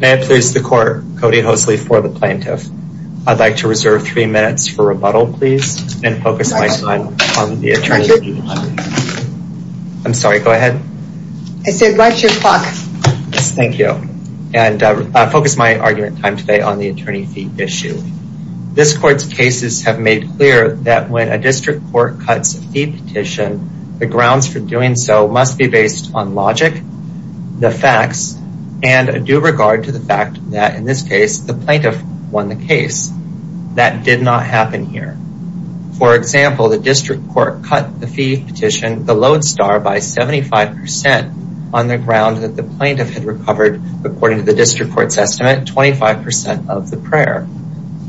May it please the court, Cody Hosley for the plaintiff. I'd like to reserve three minutes for rebuttal, please, and focus my time on the attorney fee issue. I'm sorry, go ahead. I said watch your clock. Thank you. And focus my argument time today on the attorney fee issue. This court's cases have made clear that when a district court cuts a fee petition, the grounds for doing so must be based on logic, the facts, and a due regard to the fact that, in this case, the plaintiff won the case. That did not happen here. For example, the district court cut the fee petition, the Lodestar, by 75% on the ground that the plaintiff had recovered, according to the district court's estimate, 25% of the prayer.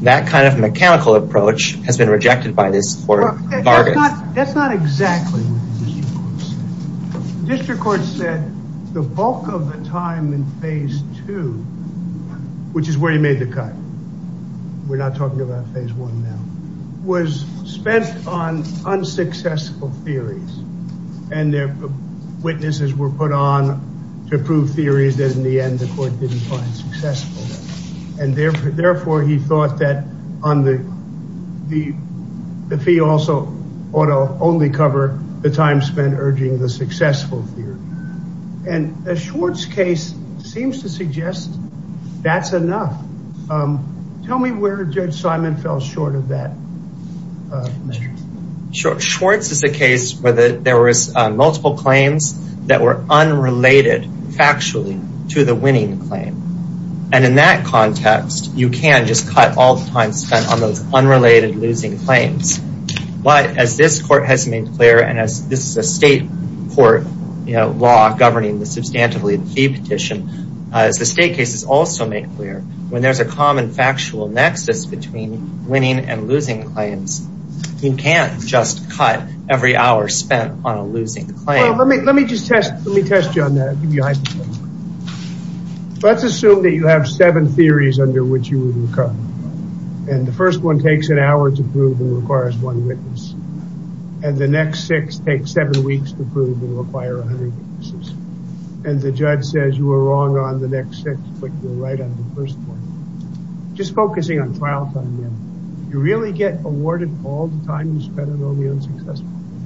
That kind of mechanical approach has been rejected by this court. That's not exactly what the district court said. The district court said the bulk of the time in phase two, which is where he made the cut, we're not talking about phase one now, was spent on unsuccessful theories, and witnesses were put on to prove theories that, in the end, the court didn't find successful. And therefore, he thought that the fee also ought to only cover the time spent urging the successful theory. And the Schwartz case seems to suggest that's enough. Tell me where Judge Simon fell short of that. Schwartz is a case where there was multiple claims that were unrelated, factually, to the winning claim. And in that context, you can just cut all the time spent on those unrelated losing claims. But as this court has made clear, and as this is a state court law governing the substantively fee petition, as the state cases also make clear, when there's a common factual nexus between winning and losing claims, you can't just cut every hour spent on a losing claim. Let me just test you on that. Let's assume that you have seven theories under which you would recover. And the first one takes an hour to prove and requires one witness. And the next six take seven weeks to prove and require 100 witnesses. And the judge says you were wrong on the next six, but you were right on the first one. Just focusing on trial time, you really get awarded all the time you spent on all the unsuccessful theories?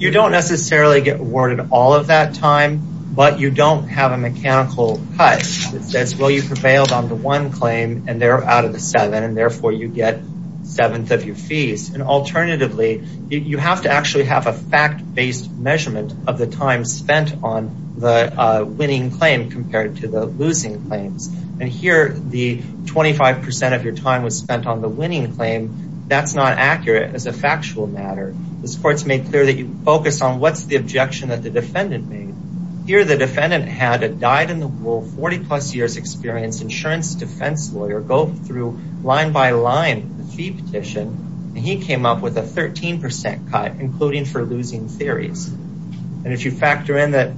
You don't necessarily get awarded all of that time, but you don't have a mechanical cut. It says, well, you prevailed on the one claim, and they're out of the seven, and therefore you get seventh of your fees. And alternatively, you have to actually have a fact-based measurement of the time spent on the winning claim compared to the losing claims. And here, the 25% of your time was spent on the winning claim. That's not accurate as a factual matter. This court's made clear that you focus on what's the objection that the defendant made. Here, the defendant had a dyed-in-the-wool, 40-plus-years-experienced insurance defense lawyer go through line-by-line the fee petition, and he came up with a 13% cut, including for losing theories. And if you factor in that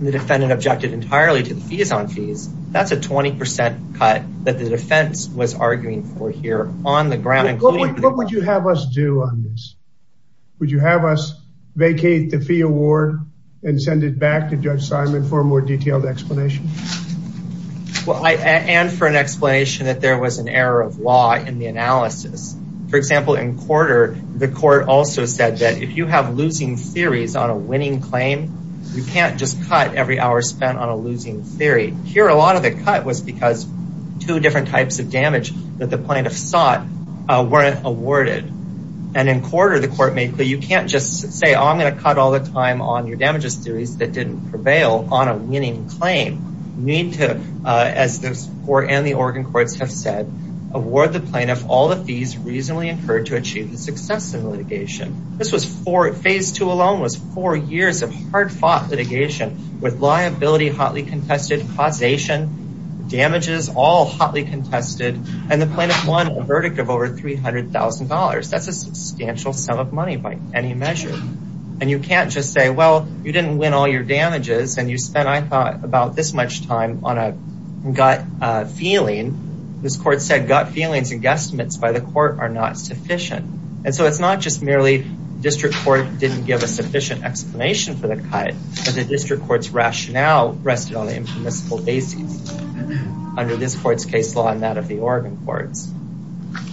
the defendant objected entirely to the fees on fees, that's a 20% cut that the defense was arguing for here on the ground. What would you have us do on this? Would you have us vacate the fee award and send it back to Judge Simon for a more detailed explanation? Well, and for an explanation that there was an error of law in the analysis. For example, in quarter, the court also said that if you have losing theories on a winning claim, you can't just cut every hour spent on a losing theory. Here, a lot of the cut was because two different types of damage that the plaintiff sought weren't awarded. And in quarter, the court made clear you can't just say, I'm going to cut all the time on your damages theories that didn't prevail on a winning claim. You need to, as the court and the Oregon courts have said, award the plaintiff all the fees reasonably incurred to achieve the success in litigation. Phase two alone was four years of hard fought litigation with liability hotly contested, causation, damages all hotly contested, and the plaintiff won a verdict of over $300,000. That's a substantial sum of money by any measure. And you can't just say, well, you didn't win all your damages, and you spent, I thought, about this much time on a gut feeling. This court said gut feelings and guesstimates by the court are not sufficient. And so it's not just merely district court didn't give a sufficient explanation for the cut, but the district court's rationale rested on the informal basis under this court's case law and that of the Oregon courts.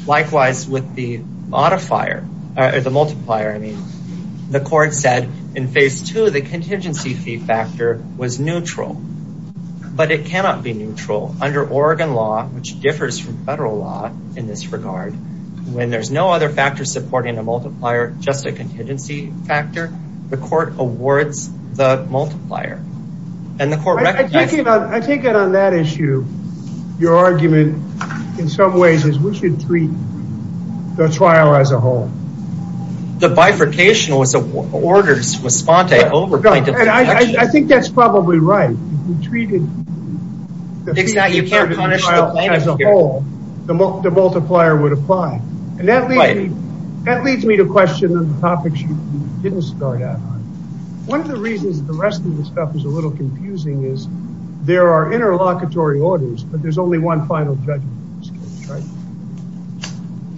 Likewise, with the modifier, or the multiplier, I mean, the court said in phase two, the contingency fee factor was neutral, but it cannot be neutral under Oregon law, which differs from federal law in this regard. When there's no other factor supporting a multiplier, just a contingency factor, the court awards the multiplier. And the court recognized... I take it on that issue, your argument in some ways is we should treat the trial as a whole. The bifurcation was orders with Spontae over... I think that's probably right. If you treated the trial as a whole, the multiplier would apply. And that leads me to question the topics you didn't start out on. One of the reasons the rest of the stuff is a little confusing is there are interlocutory orders, but there's only one final judgment in this case, right?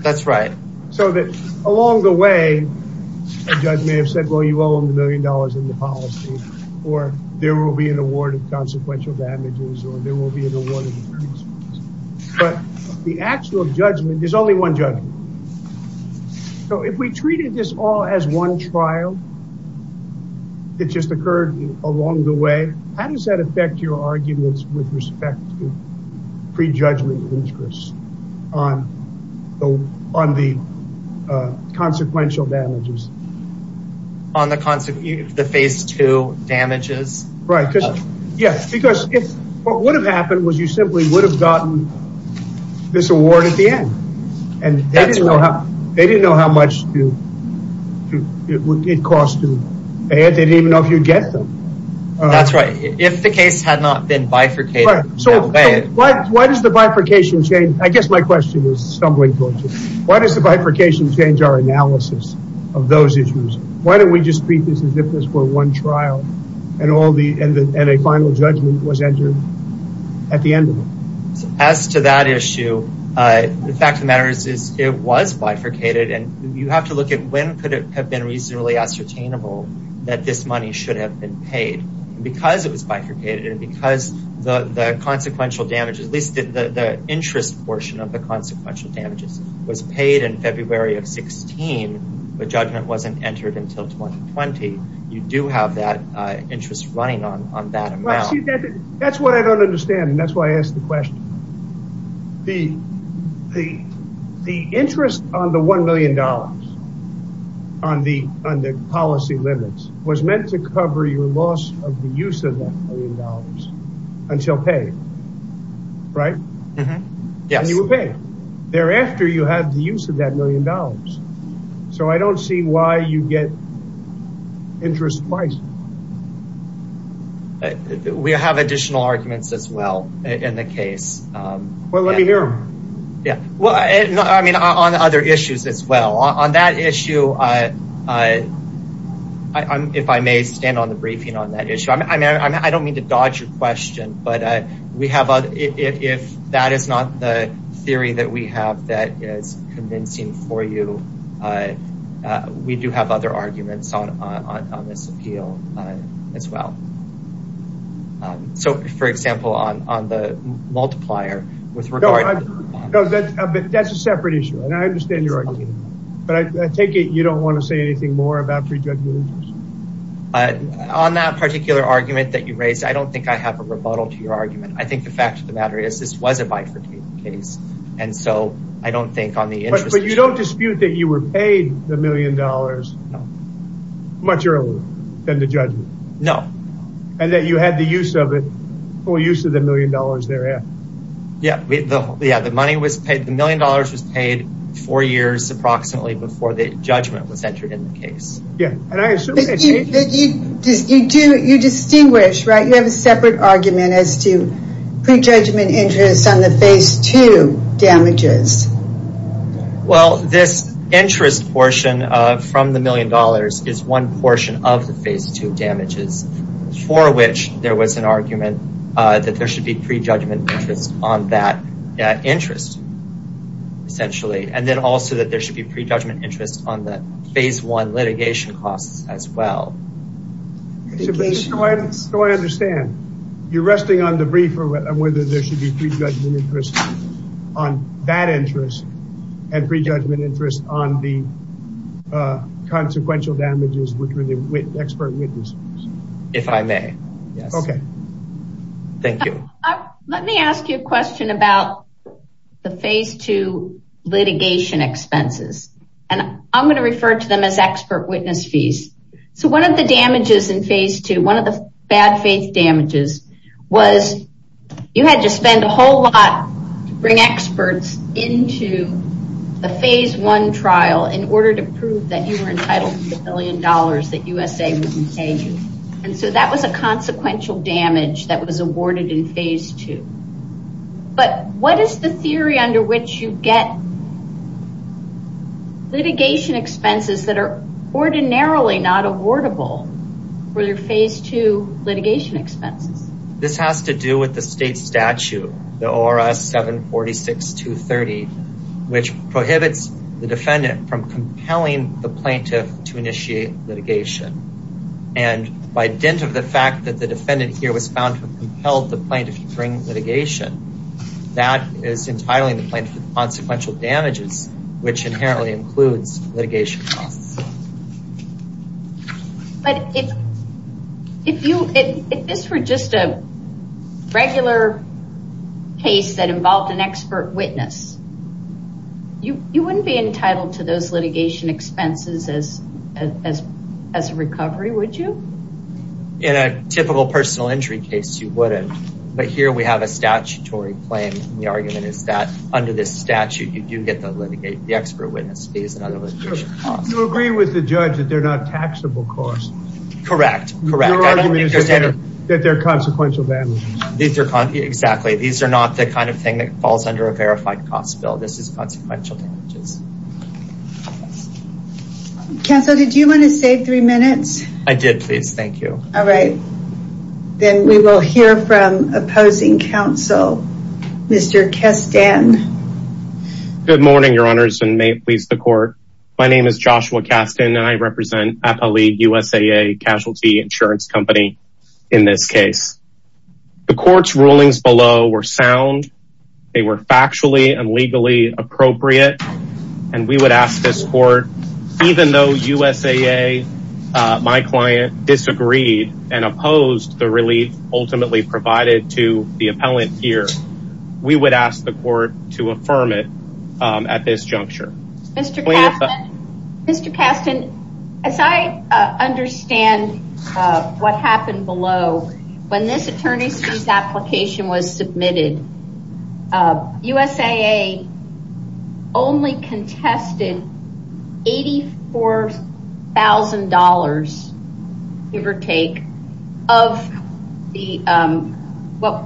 That's right. So that along the way, the judge may have said, well, you owe him a million dollars in the policy, or there will be an award of consequential damages, or there will be an award of increases. But the actual judgment, there's only one judgment. So if we treated this all as one trial, it just occurred along the way, how does that affect your arguments with respect to prejudgment interest on the consequential damages? On the phase two damages? Right. Yeah, because what would have happened was you simply would have gotten this award at the end. And they didn't know how much it would cost to pay it. They didn't even know if you'd get them. That's right. If the case had not been bifurcated that way... Why does the bifurcation change? I guess my question is stumbling towards it. Why does the bifurcation change our analysis of those issues? Why don't we just treat this as if this were one trial and a final judgment was entered at the end of it? As to that issue, the fact of the matter is it was bifurcated, and you have to look at when could it have been reasonably ascertainable that this money should have been paid. Because it was bifurcated and because the consequential damages, at least the interest portion of the consequential damages was paid in February of 16. The judgment wasn't entered until 2020. You do have that interest running on that amount. That's what I don't understand, and that's why I ask the question. The interest on the $1 million on the policy limits was meant to cover your loss of the use of that million dollars until paid, right? Yes. And you were paid. Thereafter, you had the use of that million dollars. So I don't see why you get interest twice. We have additional arguments as well in the case. Well, let me hear them. Yeah. Well, I mean, on other issues as well. On that issue, if I may stand on the briefing on that issue, I don't mean to dodge your question, but if that is not the theory that we have that is convincing for you, we do have other arguments on this appeal as well. So, for example, on the multiplier, with regard to… No, that's a separate issue, and I understand your argument. But I take it you don't want to say anything more about prejudgment? On that particular argument that you raised, I don't think I have a rebuttal to your argument. I think the fact of the matter is this was a bifurcated case, and so I don't think on the interest… But you don't dispute that you were paid the million dollars much earlier than the judgment? No. And that you had the use of it, or use of the million dollars thereafter? Yeah, the money was paid. The million dollars was paid four years approximately before the judgment was entered in the case. Yeah, and I assume… You distinguish, right? You have a separate argument as to prejudgment interest on the phase two damages. Well, this interest portion from the million dollars is one portion of the phase two damages, for which there was an argument that there should be prejudgment interest on that interest, essentially, and then also that there should be prejudgment interest on the phase one litigation costs as well. So I understand. You're resting on the brief on whether there should be prejudgment interest on that interest and prejudgment interest on the consequential damages between the expert witnesses? If I may, yes. Okay. Thank you. Let me ask you a question about the phase two litigation expenses, and I'm going to refer to them as expert witness fees. So one of the damages in phase two, one of the bad faith damages, was you had to spend a whole lot to bring experts into the phase one trial in order to prove that you were entitled to the million dollars that USA would pay you. And so that was a consequential damage that was awarded in phase two. But what is the theory under which you get litigation expenses that are ordinarily not awardable for your phase two litigation expenses? This has to do with the state statute, the ORS 746-230, which prohibits the defendant from compelling the plaintiff to initiate litigation. And by dint of the fact that the defendant here was found to have compelled the plaintiff to bring litigation, that is entitling the plaintiff to the consequential damages, which inherently includes litigation costs. But if this were just a regular case that involved an expert witness, you wouldn't be entitled to those litigation expenses as a recovery, would you? In a typical personal injury case, you wouldn't. But here we have a statutory claim, and the argument is that under this statute, you do get the expert witness fees and other litigation costs. You agree with the judge that they're not taxable costs. Correct, correct. Your argument is that they're consequential damages. Exactly. These are not the kind of thing that falls under a verified cost bill. This is consequential damages. Counsel, did you want to save three minutes? I did, please. Thank you. All right. Then we will hear from opposing counsel, Mr. Kastan. Good morning, your honors, and may it please the court. My name is Joshua Kastan, and I represent Appalee USAA Casualty Insurance Company in this case. The court's rulings below were sound. They were factually and legally appropriate. And we would ask this court, even though USAA, my client, disagreed and opposed the relief ultimately provided to the appellant here, we would ask the court to affirm it at this juncture. Mr. Kastan, as I understand what happened below, when this attorney's application was submitted, USAA only contested $84,000, give or take, of what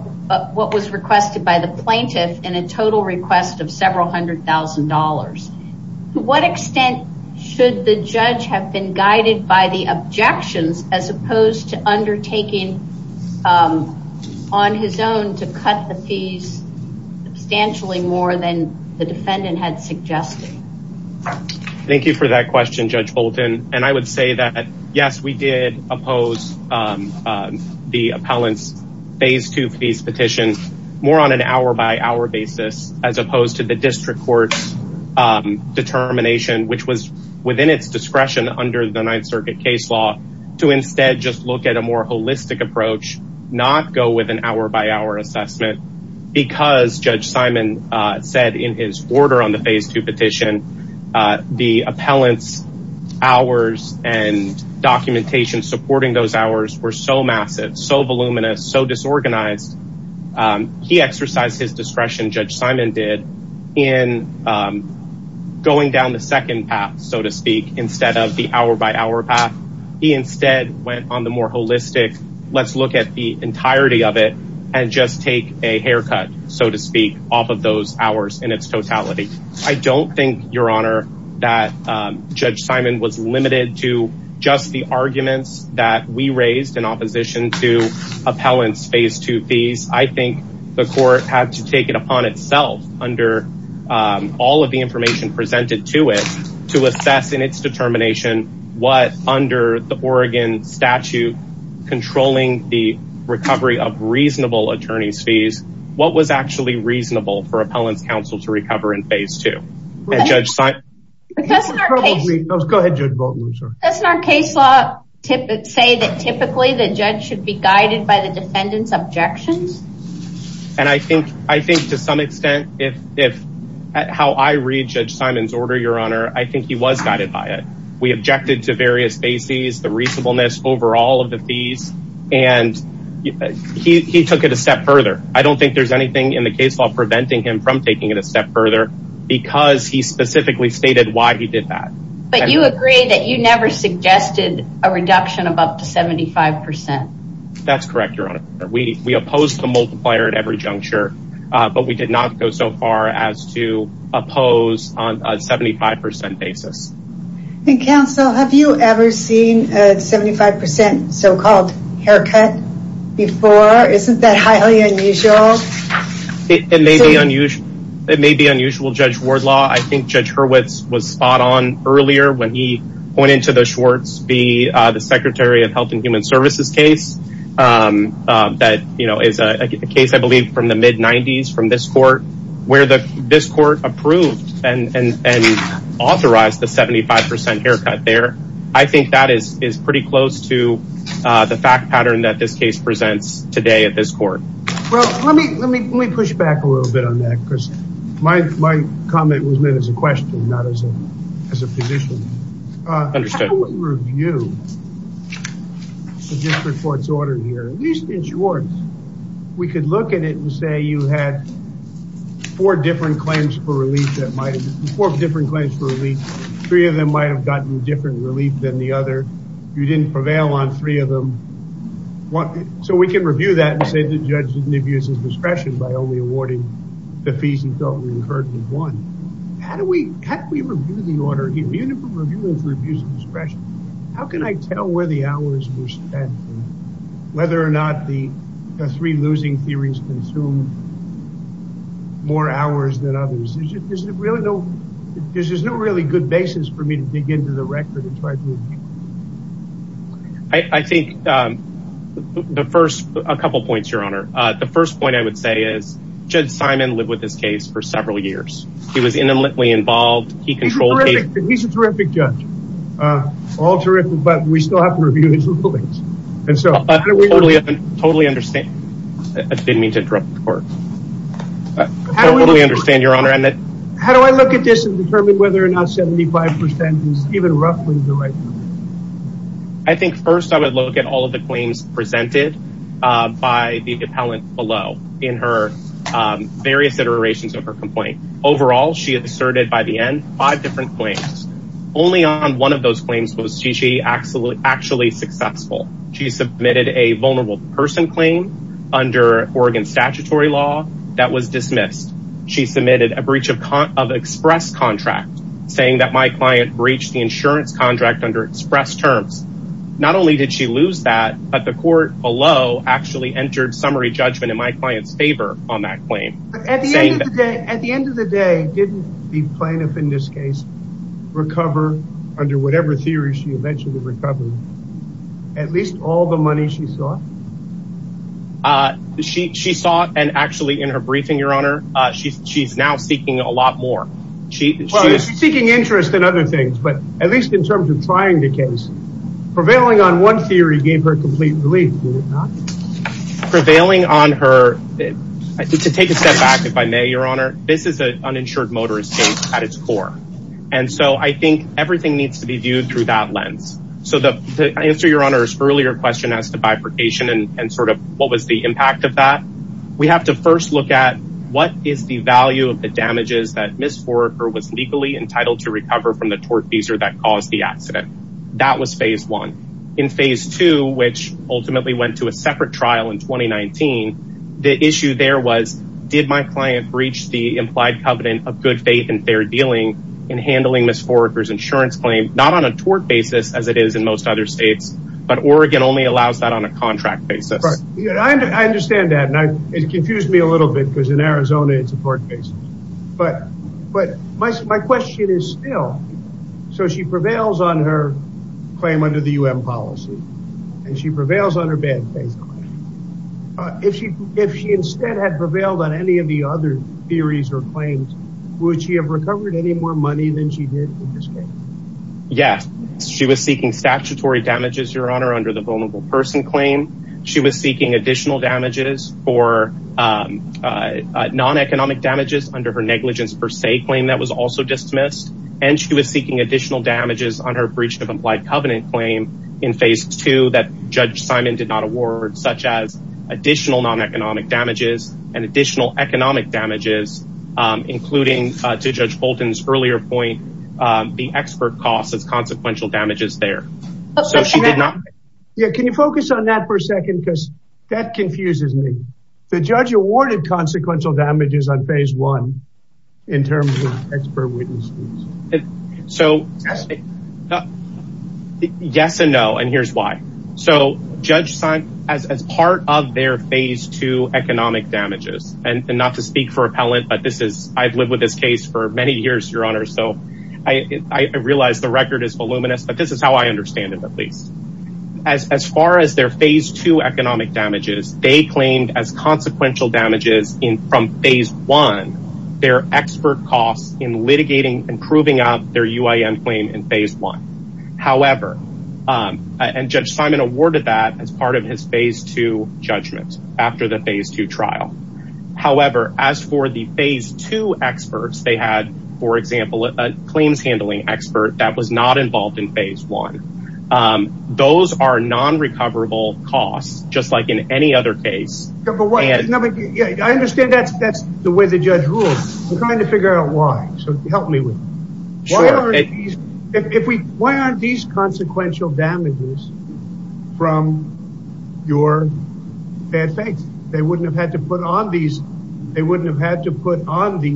was requested by the plaintiff in a total request of several hundred thousand dollars. To what extent should the judge have been guided by the objections, as opposed to undertaking on his own to cut the fees substantially more than the defendant had suggested? Thank you for that question, Judge Bolton. And I would say that, yes, we did oppose the appellant's Phase 2 fees petition more on an hour-by-hour basis, as opposed to the district court's determination, which was within its discretion under the Ninth Circuit case law, to instead just look at a more holistic approach, not go with an hour-by-hour assessment. Because, Judge Simon said in his order on the Phase 2 petition, the appellant's hours and documentation supporting those hours were so massive, so voluminous, so disorganized. He exercised his discretion, Judge Simon did, in going down the second path, so to speak, instead of the hour-by-hour path. He instead went on the more holistic, let's look at the entirety of it, and just take a haircut, so to speak, off of those hours in its totality. I don't think, Your Honor, that Judge Simon was limited to just the arguments that we raised in opposition to appellant's Phase 2 fees. I think the court had to take it upon itself, under all of the information presented to it, to assess in its determination what, under the Oregon statute controlling the recovery of reasonable attorney's fees, what was actually reasonable for appellant's counsel to recover in Phase 2. Doesn't our case law say that typically the judge should be guided by the defendant's objections? And I think, to some extent, how I read Judge Simon's order, Your Honor, I think he was guided by it. We objected to various bases, the reasonableness over all of the fees, and he took it a step further. I don't think there's anything in the case law preventing him from taking it a step further because he specifically stated why he did that. But you agree that you never suggested a reduction above the 75%? That's correct, Your Honor. We opposed the multiplier at every juncture, but we did not go so far as to oppose on a 75% basis. Counsel, have you ever seen a 75% so-called haircut before? Isn't that highly unusual? It may be unusual, Judge Wardlaw. I think Judge Hurwitz was spot on earlier when he pointed to the Schwartz v. Secretary of Health and Human Services case. That is a case, I believe, from the mid-90s from this court where this court approved and authorized the 75% haircut there. I think that is pretty close to the fact pattern that this case presents today at this court. Well, let me push back a little bit on that because my comment was made as a question, not as a position. How do we review the district court's order here, at least in Schwartz? We could look at it and say you had four different claims for relief. Three of them might have gotten different relief than the other. You didn't prevail on three of them. So we can review that and say the judge didn't abuse his discretion by only awarding the fees he felt were incurred with one. How do we review the order here? How can I tell where the hours were spent and whether or not the three losing theories consumed more hours than others? There is no really good basis for me to dig into the record and try to review it. I think the first, a couple of points, Your Honor. The first point I would say is Judge Simon lived with this case for several years. He was intimately involved. He controlled the case. He's a terrific judge. All terrific, but we still have to review his rulings. Totally understand. I didn't mean to interrupt the court. How do I look at this and determine whether or not 75% is even roughly the right number? I think first I would look at all of the claims presented by the appellant below in her various iterations of her complaint. Overall, she asserted by the end five different claims. Only on one of those claims was she actually successful. She submitted a vulnerable person claim under Oregon statutory law that was dismissed. She submitted a breach of express contract, saying that my client breached the insurance contract under express terms. Not only did she lose that, but the court below actually entered summary judgment in my client's favor on that claim. At the end of the day, didn't the plaintiff in this case recover, under whatever theory she eventually recovered, at least all the money she sought? She sought, and actually in her briefing, Your Honor, she's now seeking a lot more. She was seeking interest in other things, but at least in terms of trying the case. Prevailing on one theory gave her complete relief, did it not? Prevailing on her, to take a step back if I may, Your Honor, this is an uninsured motorist case at its core. And so I think everything needs to be viewed through that lens. So to answer Your Honor's earlier question as to bifurcation and sort of what was the impact of that, we have to first look at what is the value of the damages that Ms. Foraker was legally entitled to recover from the tort visa that caused the accident. That was phase one. In phase two, which ultimately went to a separate trial in 2019, the issue there was, did my client breach the implied covenant of good faith and fair dealing in handling Ms. Foraker's insurance claim, not on a tort basis as it is in most other states, but Oregon only allows that on a contract basis. I understand that, and it confused me a little bit because in Arizona it's a tort basis. But my question is still, so she prevails on her claim under the U.N. policy, and she prevails on her bad faith claim. If she instead had prevailed on any of the other theories or claims, would she have recovered any more money than she did in this case? Yes, she was seeking statutory damages, Your Honor, under the vulnerable person claim. She was seeking additional damages for non-economic damages under her negligence per se claim that was also dismissed. And she was seeking additional damages on her breach of implied covenant claim in phase two that Judge Simon did not award, such as additional non-economic damages and additional economic damages, including, to Judge Bolton's earlier point, the expert costs as consequential damages there. Can you focus on that for a second because that confuses me. The judge awarded consequential damages on phase one in terms of expert witnesses. So yes and no, and here's why. So Judge Simon, as part of their phase two economic damages, and not to speak for appellant, but I've lived with this case for many years, Your Honor, so I realize the record is voluminous, but this is how I understand it at least. As far as their phase two economic damages, they claimed as consequential damages from phase one, their expert costs in litigating and proving up their UIN claim in phase one. However, and Judge Simon awarded that as part of his phase two judgment after the phase two trial. However, as for the phase two experts, they had, for example, a claims handling expert that was not involved in phase one. Those are non-recoverable costs, just like in any other case. I understand that's the way the judge rules. I'm trying to figure out why, so help me with that. Why aren't these consequential damages from your bad faith? They wouldn't have had to put on these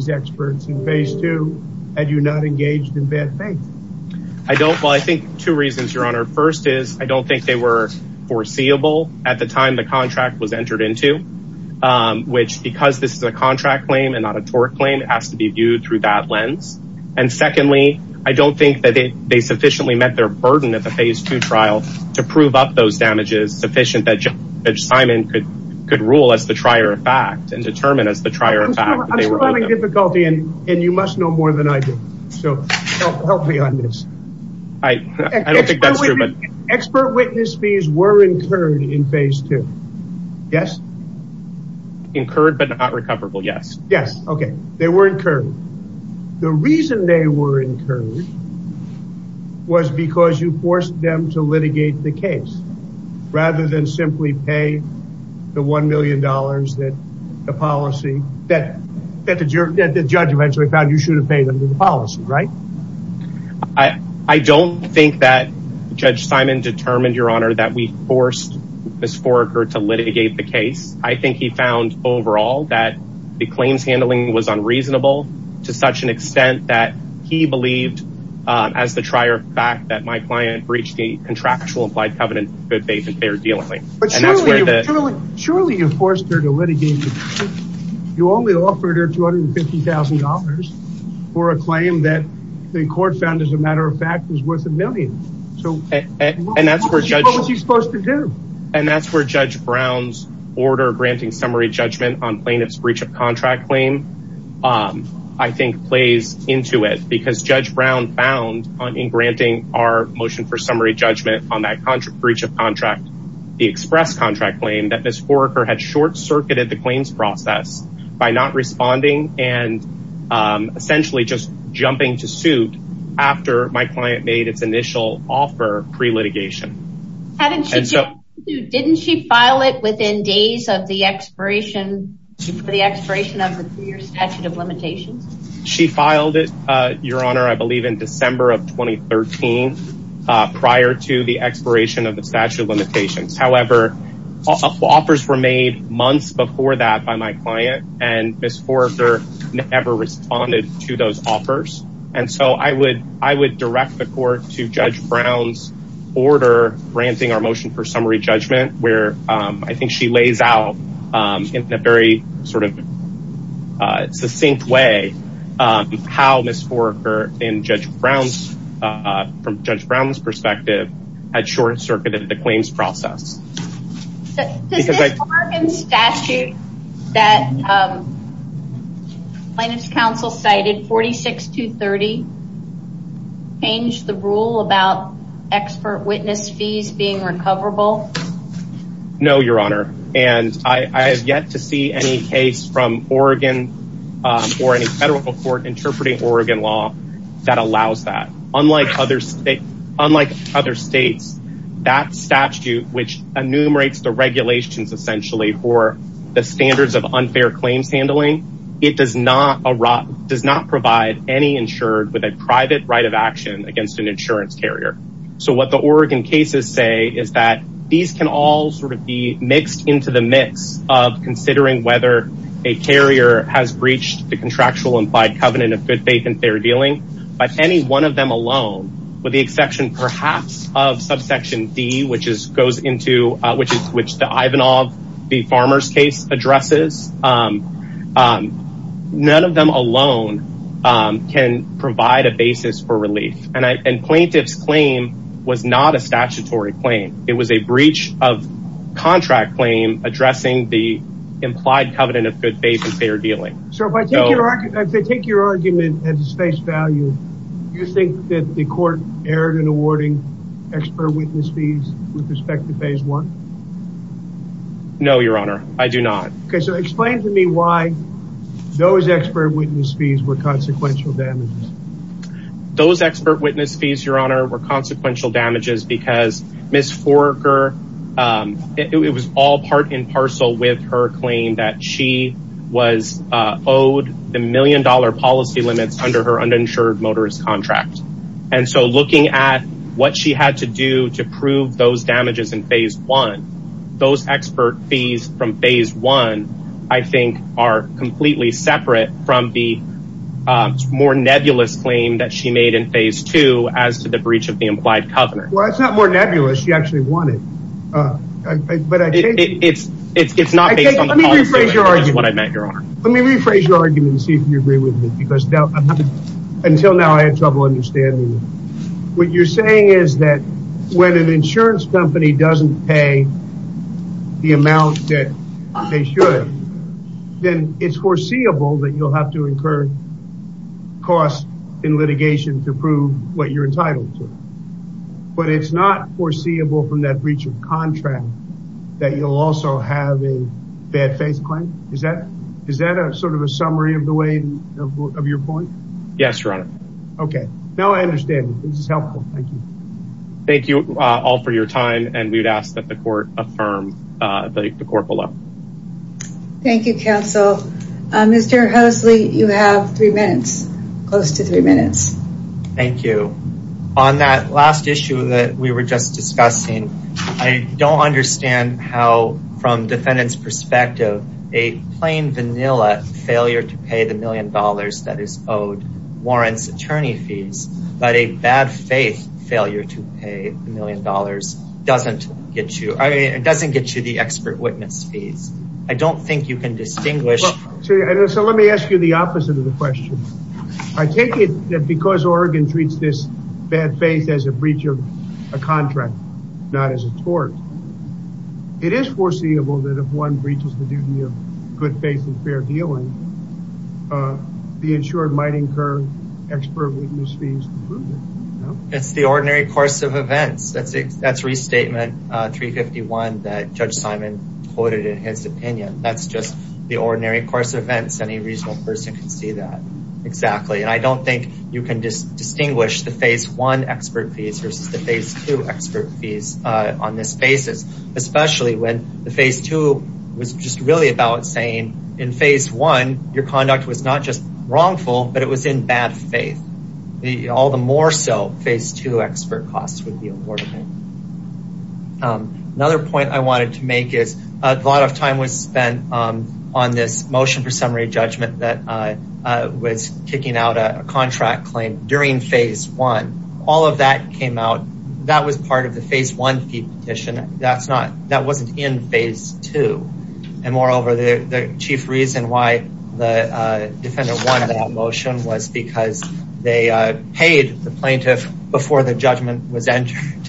experts in phase two had you not engaged in bad faith. Well, I think two reasons, Your Honor. First is I don't think they were foreseeable at the time the contract was entered into, which because this is a contract claim and not a tort claim, it has to be viewed through that lens. And secondly, I don't think that they sufficiently met their burden at the phase two trial to prove up those damages was sufficient that Simon could rule as the trier of fact and determine as the trier of fact. I'm still having difficulty, and you must know more than I do. So help me on this. I don't think that's true. Expert witness fees were incurred in phase two. Yes? Incurred but not recoverable, yes. Yes. Okay. They were incurred. The reason they were incurred was because you forced them to litigate the case rather than simply pay the $1 million that the policy that the judge eventually found you should have paid them to the policy, right? I don't think that Judge Simon determined, Your Honor, that we forced Ms. Foraker to litigate the case. I think he found overall that the claims handling was unreasonable to such an extent that he believed as the trier of fact that my client breached the contractual implied covenant of good faith and fair dealing. But surely you forced her to litigate the case. You only offered her $250,000 for a claim that the court found, as a matter of fact, was worth a million. So what was he supposed to do? And that's where Judge Brown's order granting summary judgment on plaintiff's breach of contract claim, I think, plays into it. Because Judge Brown found in granting our motion for summary judgment on that breach of contract, the express contract claim, that Ms. Foraker had short-circuited the claims process by not responding and essentially just jumping to suit after my client made its initial offer pre-litigation. Didn't she file it within days of the expiration of the statute of limitations? She filed it, Your Honor, I believe in December of 2013 prior to the expiration of the statute of limitations. However, offers were made months before that by my client and Ms. Foraker never responded to those offers. And so I would direct the court to Judge Brown's order granting our motion for summary judgment, where I think she lays out in a very sort of succinct way how Ms. Foraker, from Judge Brown's perspective, had short-circuited the claims process. Does this Oregon statute that Plaintiff's Counsel cited, 46-230, change the rule about expert witness fees being recoverable? No, Your Honor. And I have yet to see any case from Oregon or any federal court interpreting Oregon law that allows that. Unlike other states, that statute, which enumerates the regulations essentially for the standards of unfair claims handling, it does not provide any insured with a private right of action against an insurance carrier. So what the Oregon cases say is that these can all sort of be mixed into the mix of considering whether a carrier has breached the contractual implied covenant of good faith and fair dealing. But any one of them alone, with the exception perhaps of subsection D, which is which the Ivanov v. Farmers case addresses, none of them alone can provide a basis for relief. And Plaintiff's claim was not a statutory claim. It was a breach of contract claim addressing the implied covenant of good faith and fair dealing. So if I take your argument at its face value, do you think that the court erred in awarding expert witness fees with respect to phase one? No, Your Honor. I do not. Okay, so explain to me why those expert witness fees were consequential damages. Those expert witness fees, Your Honor, were consequential damages because Miss Forger, it was all part in parcel with her claim that she was owed the million dollar policy limits under her uninsured motorist contract. And so looking at what she had to do to prove those damages in phase one, those expert fees from phase one, I think, are completely separate from the more nebulous claim that she made in phase two as to the breach of the implied covenant. Well, it's not more nebulous. She actually won it. It's not based on the policy limits, is what I meant, Your Honor. Let me rephrase your argument and see if you agree with me because until now I had trouble understanding. What you're saying is that when an insurance company doesn't pay the amount that they should, then it's foreseeable that you'll have to incur costs in litigation to prove what you're entitled to. But it's not foreseeable from that breach of contract that you'll also have a bad faith claim. Is that is that a sort of a summary of the way of your point? Yes, Your Honor. Okay, now I understand this is helpful. Thank you. Thank you all for your time. And we would ask that the court affirm the court below. Thank you, counsel. Mr. Hoseley, you have three minutes, close to three minutes. Thank you. On that last issue that we were just discussing, I don't understand how from defendant's perspective, a plain vanilla failure to pay the million dollars that is owed warrants attorney fees. But a bad faith failure to pay a million dollars doesn't get you. It doesn't get you the expert witness fees. I don't think you can distinguish. So let me ask you the opposite of the question. I take it that because Oregon treats this bad faith as a breach of a contract, not as a tort. It is foreseeable that if one breaches the duty of good faith and fair dealing, the insured might incur expert witness fees. It's the ordinary course of events. That's restatement 351 that Judge Simon quoted in his opinion. That's just the ordinary course of events. Any reasonable person can see that. Exactly. And I don't think you can distinguish the phase one expert fees versus the phase two expert fees on this basis. Especially when the phase two was just really about saying in phase one, your conduct was not just wrongful, but it was in bad faith. All the more so phase two expert costs would be awarded. Another point I wanted to make is a lot of time was spent on this motion for summary judgment that was kicking out a contract claim during phase one. All of that came out. That was part of the phase one petition. That's not that wasn't in phase two. And moreover, the chief reason why the defender wanted that motion was because they paid the plaintiff before the judgment was entered.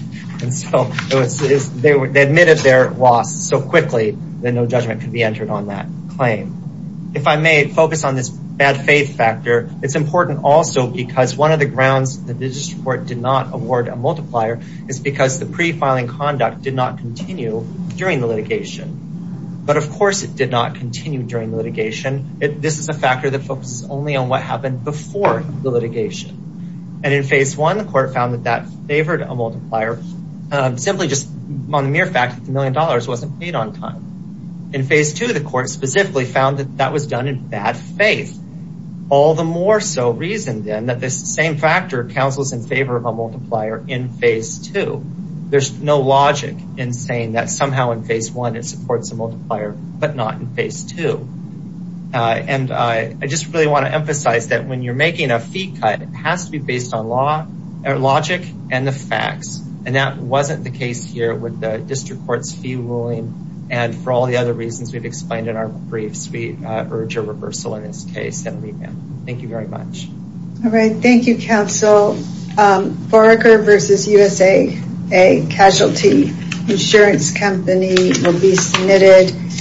And so they admitted their loss so quickly that no judgment could be entered on that claim. If I may focus on this bad faith factor, it's important also because one of the grounds that the district court did not award a multiplier is because the pre-filing conduct did not continue during the litigation. But of course, it did not continue during litigation. This is a factor that focuses only on what happened before the litigation. And in phase one, the court found that that favored a multiplier simply just on the mere fact that the million dollars wasn't paid on time. In phase two, the court specifically found that that was done in bad faith. All the more so reason then that this same factor counsels in favor of a multiplier in phase two. There's no logic in saying that somehow in phase one, it supports a multiplier, but not in phase two. And I just really want to emphasize that when you're making a fee cut, it has to be based on logic and the facts. And that wasn't the case here with the district court's fee ruling. And for all the other reasons we've explained in our briefs, we urge a reversal in this case and leave him. Thank you very much. All right. Thank you, Counsel. Foraker versus USA, a casualty insurance company will be submitted.